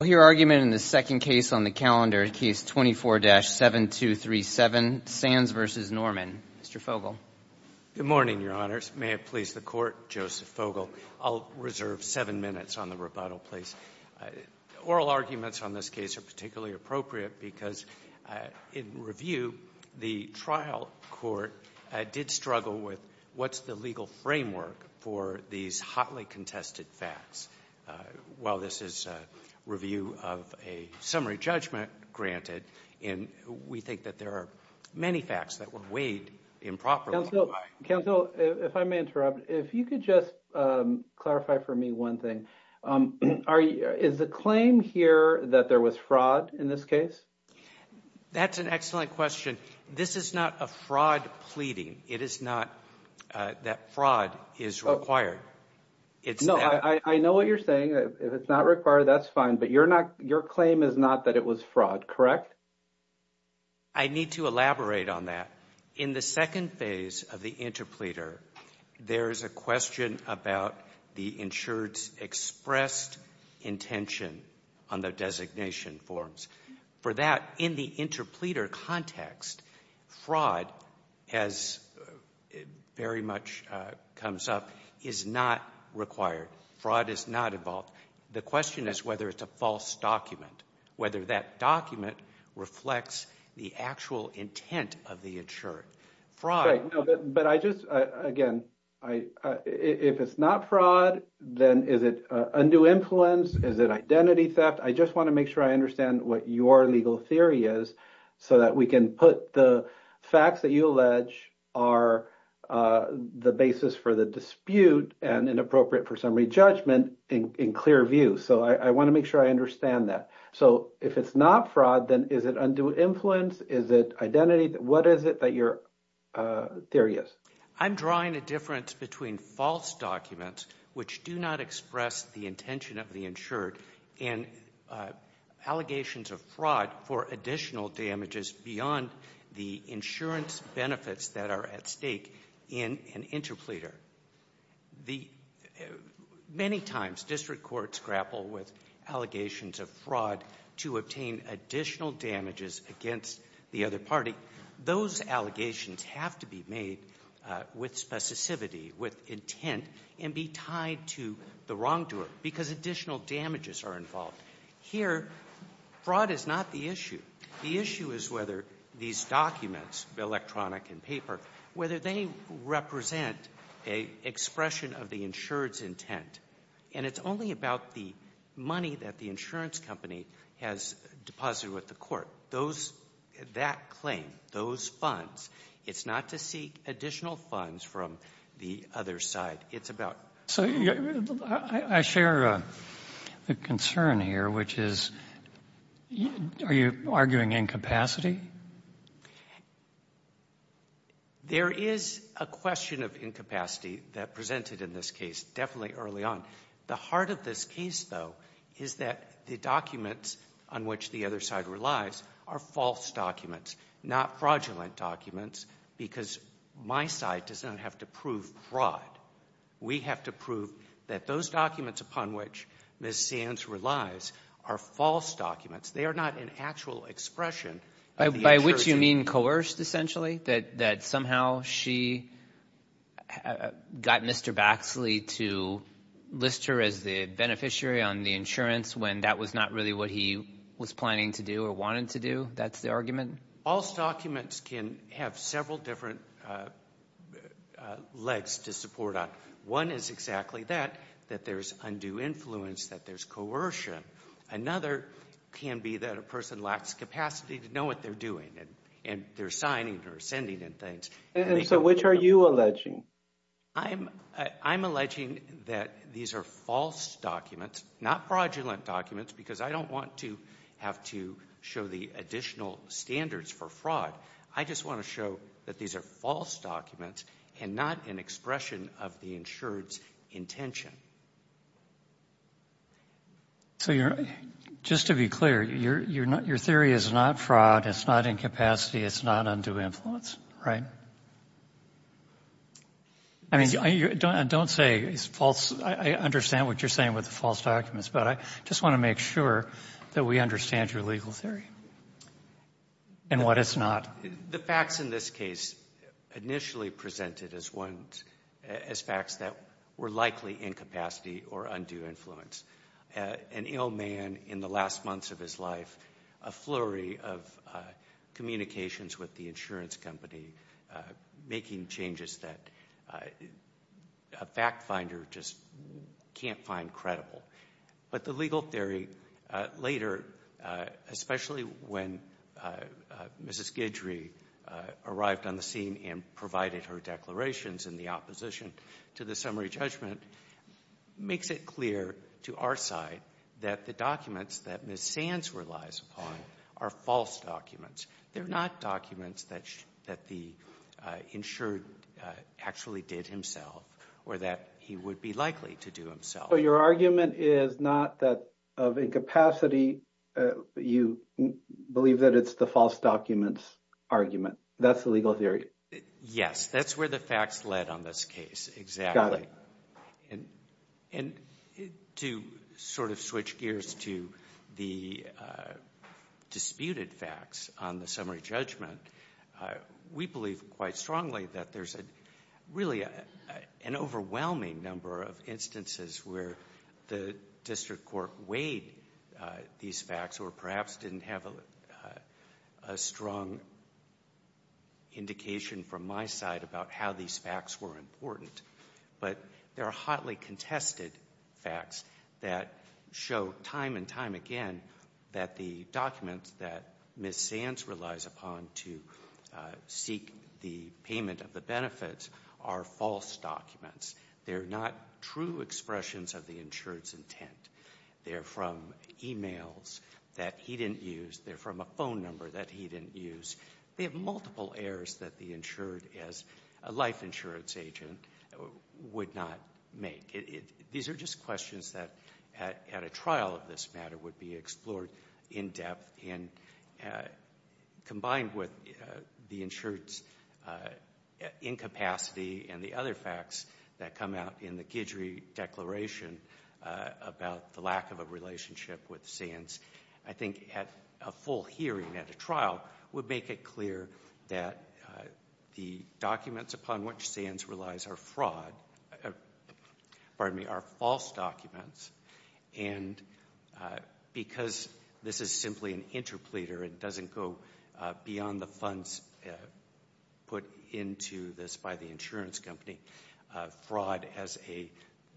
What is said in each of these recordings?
I'll hear argument in the second case on the calendar, case 24-7237, Sands v. Norman. Mr. Fogle. Good morning, Your Honors. May it please the Court, Joseph Fogle. I'll reserve seven minutes on the rebuttal, please. Oral arguments on this case are particularly appropriate because in review, the trial court did struggle with what's the legal framework for these hotly contested facts. While this is a review of a summary judgment granted, and we think that there are many facts that would wade improperly by. Counsel, if I may interrupt, if you could just clarify for me one thing. Is the claim here that there was fraud in this case? That's an excellent question. This is not a fraud pleading. It is not that fraud is required. No, I know what you're saying. If it's not required, that's fine, but your claim is not that it was fraud, correct? I need to elaborate on that. In the second phase of the interpleader, there is a question about the insured's expressed intention on the designation forms. For that, in the interpleader context, fraud, as very much comes up, is not required. Fraud is not involved. The question is whether it's a false document, whether that document reflects the actual intent of the insured. Fraud. Right, but I just, again, if it's not fraud, then is it a new influence, is it identity theft? I just want to make sure I understand what your legal theory is, so that we can put the facts that you allege are the basis for the dispute and inappropriate for summary judgment in clear view. So I want to make sure I understand that. So if it's not fraud, then is it undue influence, is it identity? What is it that your theory is? I'm drawing a difference between false documents, which do not express the intention of the allegations of fraud for additional damages beyond the insurance benefits that are at stake in an interpleader. Many times district courts grapple with allegations of fraud to obtain additional damages against the other party. Those allegations have to be made with specificity, with intent, and be tied to the wrongdoer because additional damages are involved. Here, fraud is not the issue. The issue is whether these documents, electronic and paper, whether they represent an expression of the insured's intent. And it's only about the money that the insurance company has deposited with the court. Those, that claim, those funds, it's not to seek additional funds from the other side. It's about ---- I share the concern here, which is, are you arguing incapacity? There is a question of incapacity that presented in this case, definitely early on. The heart of this case, though, is that the documents on which the other side relies are false documents, not fraudulent documents, because my side does not have to prove fraud. We have to prove that those documents upon which Ms. Sands relies are false documents. They are not an actual expression of the insured's intent. By which you mean coerced, essentially? That somehow she got Mr. Baxley to list her as the beneficiary on the insurance when that was not really what he was planning to do or wanted to do? That's the argument? False documents can have several different legs to support on. One is exactly that, that there's undue influence, that there's coercion. Another can be that a person lacks capacity to know what they're doing and they're signing or sending in things. So which are you alleging? I'm alleging that these are false documents, not fraudulent documents, because I don't want to have to show the additional standards for fraud. I just want to show that these are false documents and not an expression of the insured's intention. Just to be clear, your theory is not fraud, it's not incapacity, it's not undue influence, right? I mean, don't say it's false, I understand what you're saying with the false documents, but I just want to make sure that we understand your legal theory and what it's not. The facts in this case initially presented as facts that were likely incapacity or undue influence. An ill man in the last months of his life, a flurry of communications with the insurance company making changes that a fact finder just can't find credible. But the legal theory later, especially when Mrs. Guidry arrived on the scene and provided her declarations in the opposition to the summary judgment, makes it clear to our side that the documents that Ms. Sands relies upon are false documents. They're not documents that the insured actually did himself or that he would be likely to do himself. So your argument is not that of incapacity, you believe that it's the false documents argument. That's the legal theory? Yes, that's where the facts led on this case, exactly. And to sort of switch gears to the disputed facts on the summary judgment, we believe quite strongly that there's really an overwhelming number of instances where the district court weighed these facts or perhaps didn't have a strong indication from my side about how these facts were important. But there are hotly contested facts that show time and time again that the documents that Ms. Sands relies upon to seek the payment of the benefits are false documents. They're not true expressions of the insured's intent. They're from emails that he didn't use. They're from a phone number that he didn't use. They have multiple errors that the insured, as a life insurance agent, would not make. These are just questions that, at a trial of this matter, would be explored in depth. And combined with the insured's incapacity and the other facts that come out in the Guidry Declaration about the lack of a relationship with Sands, I think a full hearing at a trial would make it clear that the documents upon which Sands relies are fraud, pardon me, are false documents. And because this is simply an interpleader and doesn't go beyond the funds put into this by the insurance company, fraud as a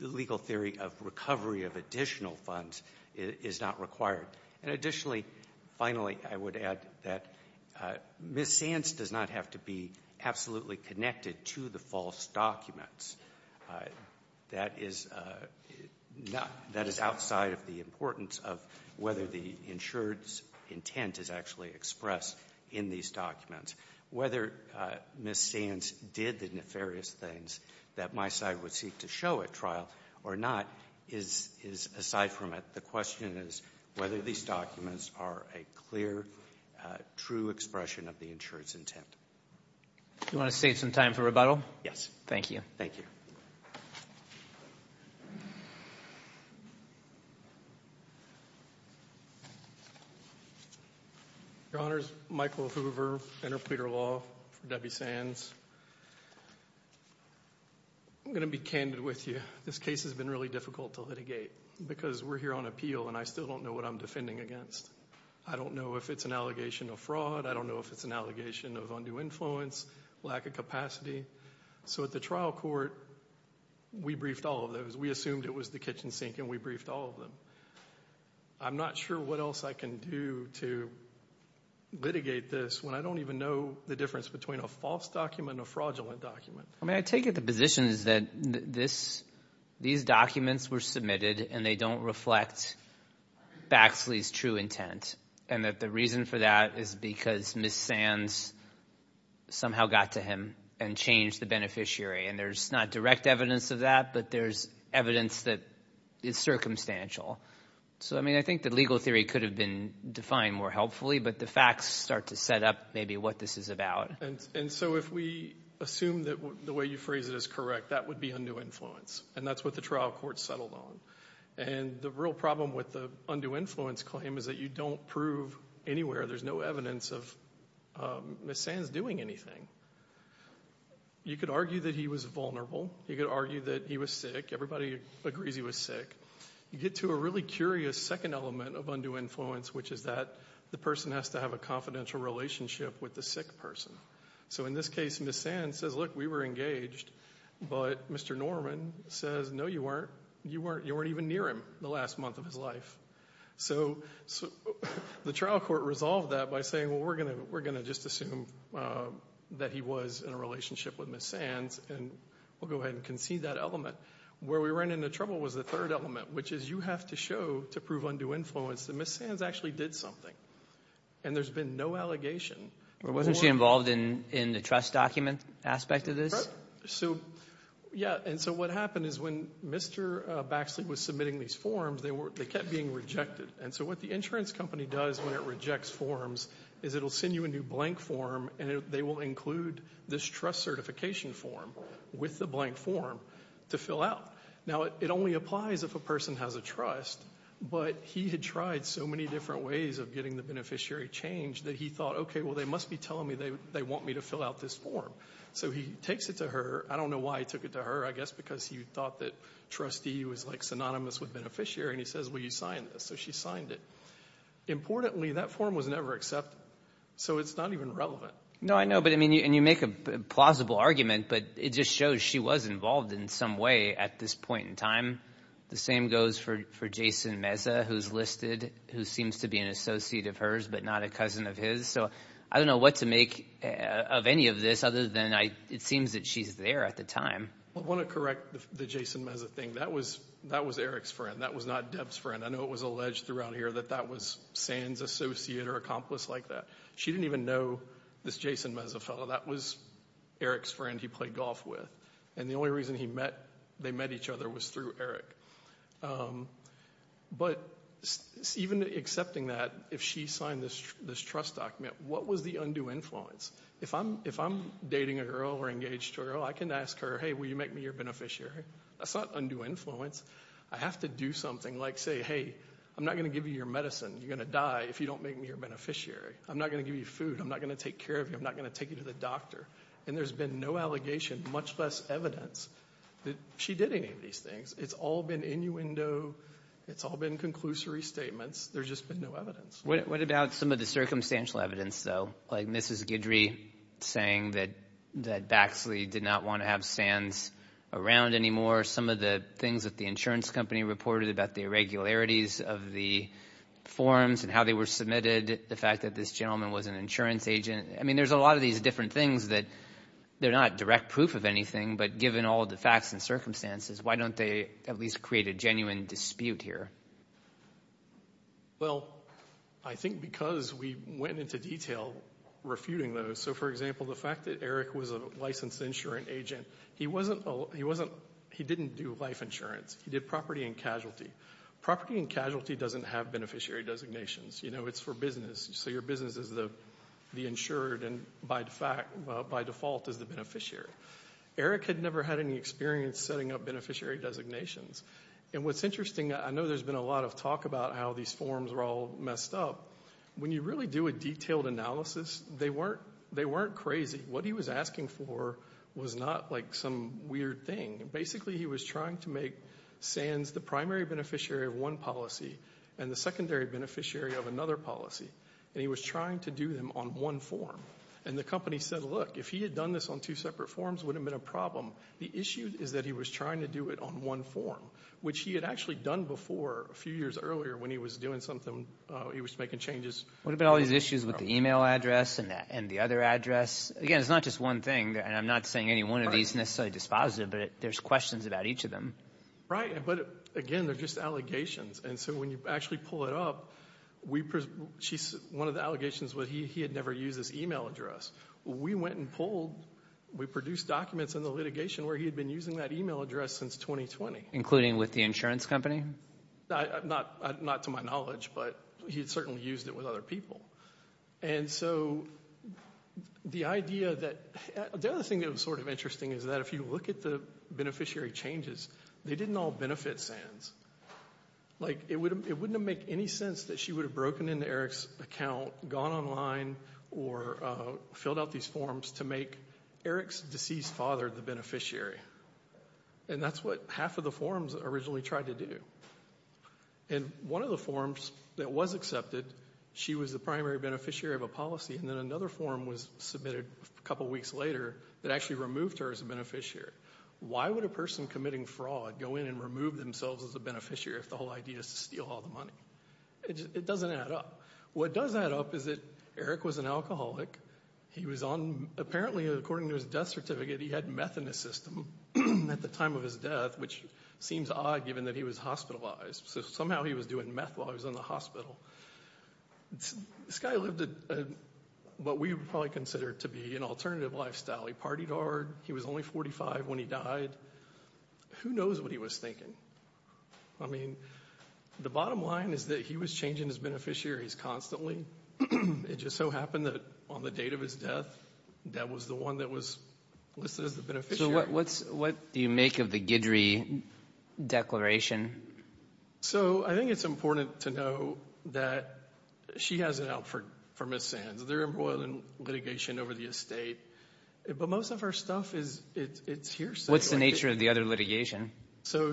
legal theory of recovery of additional funds is not required. And additionally, finally, I would add that Ms. Sands does not have to be absolutely connected to the false documents. That is outside of the importance of whether the insured's intent is actually expressed in these documents. Whether Ms. Sands did the nefarious things that my side would seek to show at trial or not is aside from it. The question is whether these documents are a clear, true expression of the insured's Do you want to save some time for rebuttal? Yes. Thank you. Thank you. Your Honors, Michael Hoover, Interpleader Law for Debbie Sands, I'm going to be candid with you. This case has been really difficult to litigate because we're here on appeal and I still don't know what I'm defending against. I don't know if it's an allegation of fraud. I don't know if it's an allegation of undue influence, lack of capacity. So at the trial court, we briefed all of those. We assumed it was the kitchen sink and we briefed all of them. I'm not sure what else I can do to litigate this when I don't even know the difference between a false document and a fraudulent document. I take it the position is that these documents were submitted and they don't reflect Baxley's true intent and that the reason for that is because Ms. Sands somehow got to him and changed the beneficiary. And there's not direct evidence of that, but there's evidence that it's circumstantial. So I think the legal theory could have been defined more helpfully, but the facts start to set up maybe what this is about. And so if we assume that the way you phrase it is correct, that would be undue influence. And that's what the trial court settled on. And the real problem with the undue influence claim is that you don't prove anywhere, there's no evidence of Ms. Sands doing anything. You could argue that he was vulnerable. You could argue that he was sick. Everybody agrees he was sick. You get to a really curious second element of undue influence, which is that the person has to have a confidential relationship with the sick person. So in this case, Ms. Sands says, look, we were engaged. But Mr. Norman says, no, you weren't. You weren't even near him the last month of his life. So the trial court resolved that by saying, well, we're going to just assume that he was in a relationship with Ms. Sands and we'll go ahead and concede that element. Where we ran into trouble was the third element, which is you have to show to prove undue influence that Ms. Sands actually did something. And there's been no allegation. But wasn't she involved in the trust document aspect of this? So yeah. And so what happened is when Mr. Baxley was submitting these forms, they kept being rejected. And so what the insurance company does when it rejects forms is it will send you a new blank form and they will include this trust certification form with the blank form to fill out. Now, it only applies if a person has a trust. But he had tried so many different ways of getting the beneficiary changed that he thought, okay, well, they must be telling me they want me to fill out this form. So he takes it to her. I don't know why he took it to her. I guess because he thought that trustee was, like, synonymous with beneficiary. And he says, well, you signed this. So she signed it. Importantly, that form was never accepted. So it's not even relevant. No, I know. But, I mean, and you make a plausible argument, but it just shows she was involved in some way at this point in time. The same goes for Jason Meza, who's listed, who seems to be an associate of hers but not a cousin of his. So I don't know what to make of any of this other than it seems that she's there at the time. I want to correct the Jason Meza thing. That was Eric's friend. That was not Deb's friend. I know it was alleged throughout here that that was San's associate or accomplice like that. She didn't even know this Jason Meza fellow. That was Eric's friend he played golf with. And the only reason they met each other was through Eric. But even accepting that, if she signed this trust document, what was the undue influence? If I'm dating a girl or engaged to a girl, I can ask her, hey, will you make me your beneficiary? That's not undue influence. I have to do something like say, hey, I'm not going to give you your medicine. You're going to die if you don't make me your beneficiary. I'm not going to give you food. I'm not going to take care of you. I'm not going to take you to the doctor. And there's been no allegation, much less evidence, that she did any of these things. It's all been innuendo. It's all been conclusory statements. There's just been no evidence. What about some of the circumstantial evidence, though? Like Mrs. Guidry saying that Baxley did not want to have San's around anymore. Some of the things that the insurance company reported about the irregularities of the forms and how they were submitted. The fact that this gentleman was an insurance agent. I mean, there's a lot of these different things that they're not direct proof of anything, but given all the facts and circumstances, why don't they at least create a genuine dispute here? Well, I think because we went into detail refuting those. So for example, the fact that Eric was a licensed insurance agent, he wasn't, he didn't do life insurance. He did property and casualty. Property and casualty doesn't have beneficiary designations. You know, it's for business. So your business is the insured and by default is the beneficiary. Eric had never had any experience setting up beneficiary designations. And what's interesting, I know there's been a lot of talk about how these forms were all messed up. When you really do a detailed analysis, they weren't crazy. What he was asking for was not like some weird thing. Basically he was trying to make San's the primary beneficiary of one policy and the secondary beneficiary of another policy, and he was trying to do them on one form. And the company said, look, if he had done this on two separate forms, it wouldn't have been a problem. The issue is that he was trying to do it on one form, which he had actually done before a few years earlier when he was doing something, he was making changes. What about all these issues with the e-mail address and the other address? Again, it's not just one thing, and I'm not saying any one of these is necessarily dispositive, but there's questions about each of them. Right. But again, they're just allegations. And so when you actually pull it up, one of the allegations was he had never used this e-mail address. We went and pulled, we produced documents in the litigation where he had been using that e-mail address since 2020. Including with the insurance company? Not to my knowledge, but he had certainly used it with other people. And so the idea that, the other thing that was sort of interesting is that if you look at the beneficiary changes, they didn't all benefit SANS. Like it wouldn't make any sense that she would have broken into Eric's account, gone online, or filled out these forms to make Eric's deceased father the beneficiary. And that's what half of the forms originally tried to do. And one of the forms that was accepted, she was the primary beneficiary of a policy, and then another form was submitted a couple of weeks later that actually removed her as a beneficiary. Why would a person committing fraud go in and remove themselves as a beneficiary if the whole idea is to steal all the money? It doesn't add up. What does add up is that Eric was an alcoholic. He was on, apparently according to his death certificate, he had meth in his system at the time of his death, which seems odd given that he was hospitalized. So somehow he was doing meth while he was in the hospital. This guy lived what we would probably consider to be an alternative lifestyle. He partied hard. He was only 45 when he died. Who knows what he was thinking? I mean, the bottom line is that he was changing his beneficiaries constantly. It just so happened that on the date of his death, that was the one that was listed as the beneficiary. So what do you make of the Guidry Declaration? So I think it's important to know that she has an out for Ms. Sands. They're embroiled in litigation over the estate, but most of her stuff is here. What's the nature of the other litigation? So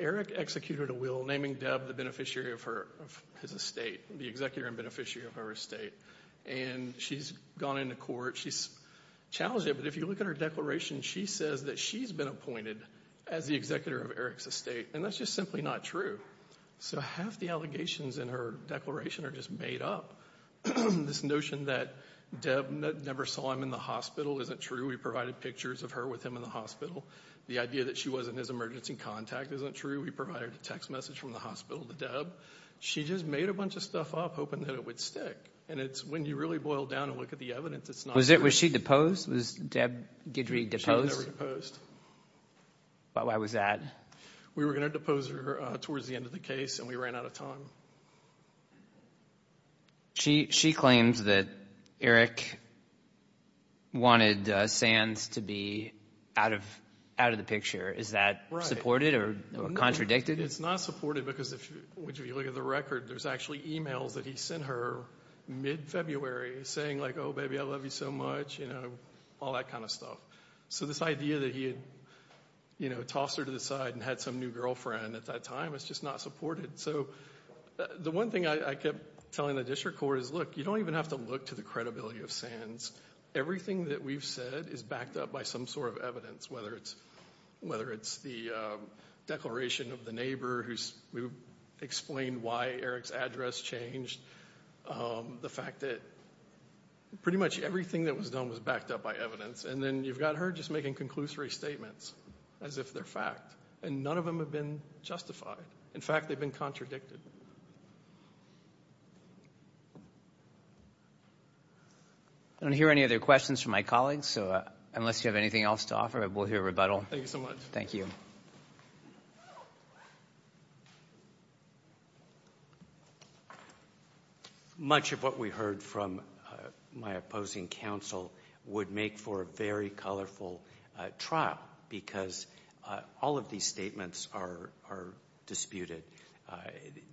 Eric executed a will naming Deb the beneficiary of his estate, the executor and beneficiary of her estate, and she's gone into court. She's challenged it, but if you look at her declaration, she says that she's been appointed as the executor of Eric's estate, and that's just simply not true. So half the allegations in her declaration are just made up. This notion that Deb never saw him in the hospital isn't true. We provided pictures of her with him in the hospital. The idea that she wasn't his emergency contact isn't true. We provided a text message from the hospital to Deb. She just made a bunch of stuff up hoping that it would stick, and it's when you really boil down and look at the evidence, it's not true. Was she deposed? Was Deb Guidry deposed? She was never deposed. Why was that? We were going to depose her towards the end of the case, and we ran out of time. She claims that Eric wanted Sands to be out of the picture. Is that supported or contradicted? It's not supported because if you look at the record, there's actually emails that he So this idea that he had tossed her to the side and had some new girlfriend at that time is just not supported. So the one thing I kept telling the district court is, look, you don't even have to look to the credibility of Sands. Everything that we've said is backed up by some sort of evidence, whether it's the declaration of the neighbor who explained why Eric's address changed, the fact that pretty much everything that was done was backed up by evidence. And then you've got her just making conclusory statements as if they're fact, and none of them have been justified. In fact, they've been contradicted. I don't hear any other questions from my colleagues, so unless you have anything else to offer, we'll hear rebuttal. Thank you so much. Thank you. Much of what we heard from my opposing counsel would make for a very colorful trial because all of these statements are disputed.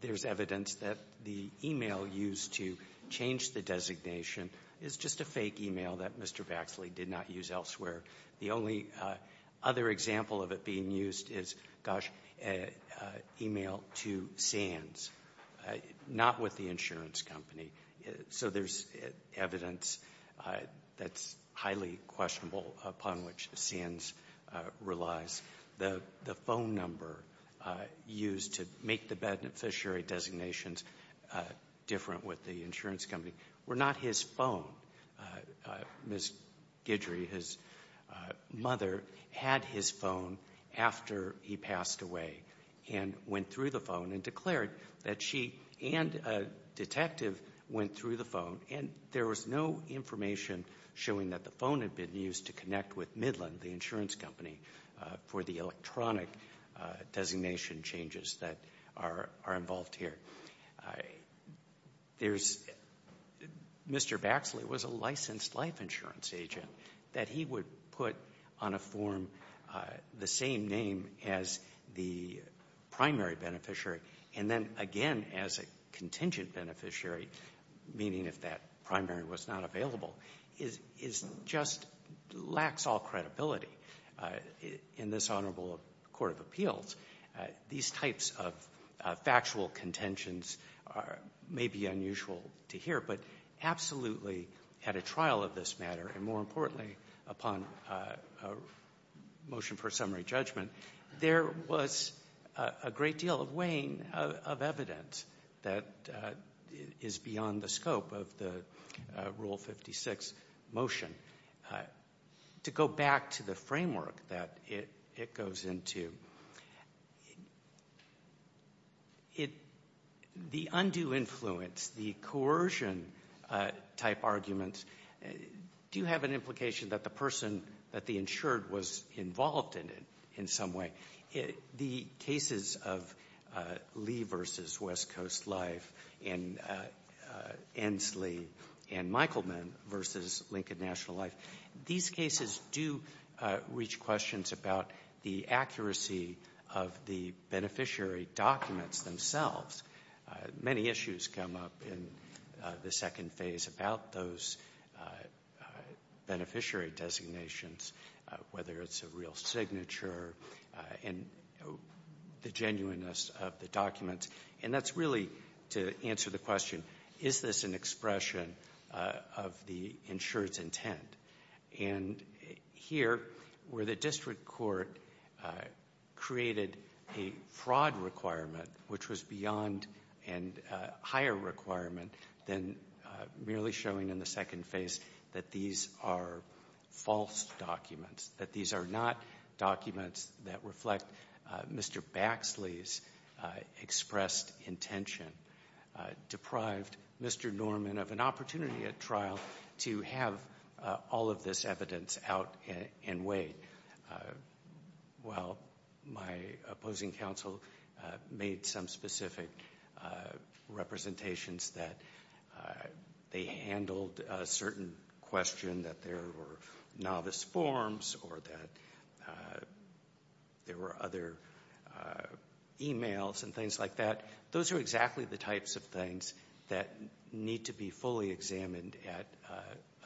There's evidence that the email used to change the designation is just a fake email that Mr. Baxley did not use elsewhere. The only other example of it being used is, gosh, an email to Sands, not with the insurance company. So there's evidence that's highly questionable upon which Sands relies. The phone number used to make the beneficiary designations different with the insurance company were not his phone. Ms. Guidry, his mother, had his phone after he passed away and went through the phone and declared that she and a detective went through the phone, and there was no information showing that the phone had been used to connect with Midland, the insurance company, for the electronic designation changes that are involved here. There's, Mr. Baxley was a licensed life insurance agent. That he would put on a form the same name as the primary beneficiary and then again as a contingent beneficiary, meaning if that primary was not available, is just, lacks all credibility. In this Honorable Court of Appeals, these types of factual contentions may be unusual to hear, but absolutely at a trial of this matter and more importantly upon a motion for summary judgment, there was a great deal of weighing of evidence that is beyond the scope of the Rule 56 motion. To go back to the framework that it goes into, it, the undue influence, the coercion type arguments do have an implication that the person, that the insured was involved in it in some way. The cases of Lee v. West Coast Life and Ensley and Michaelman v. Lincoln National Life, these cases do reach questions about the accuracy of the beneficiary documents themselves. Many issues come up in the second phase about those beneficiary designations, whether it's a real signature and the genuineness of the documents. And that's really to answer the question, is this an expression of the insured's intent? And here, where the district court created a fraud requirement which was beyond and higher requirement than merely showing in the second phase that these are false documents, that these are not documents that reflect Mr. Baxley's expressed intention, deprived Mr. Norman of an opportunity at trial to have all of this evidence out in weight, while my opposing counsel made some specific representations that they handled a certain question that there were novice forms or that there were other emails and things like that. Those are exactly the types of things that need to be fully examined at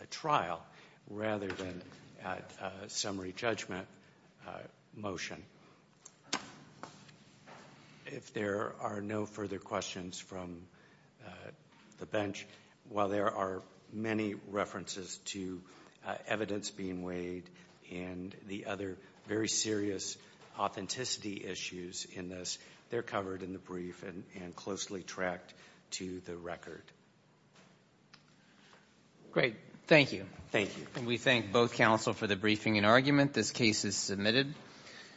a trial rather than at a summary judgment motion. If there are no further questions from the bench, while there are many references to evidence being weighed and the other very serious authenticity issues in this, they're covered in the brief and closely tracked to the record. Great. Thank you. Thank you. And we thank both counsel for the briefing and argument. This case is submitted.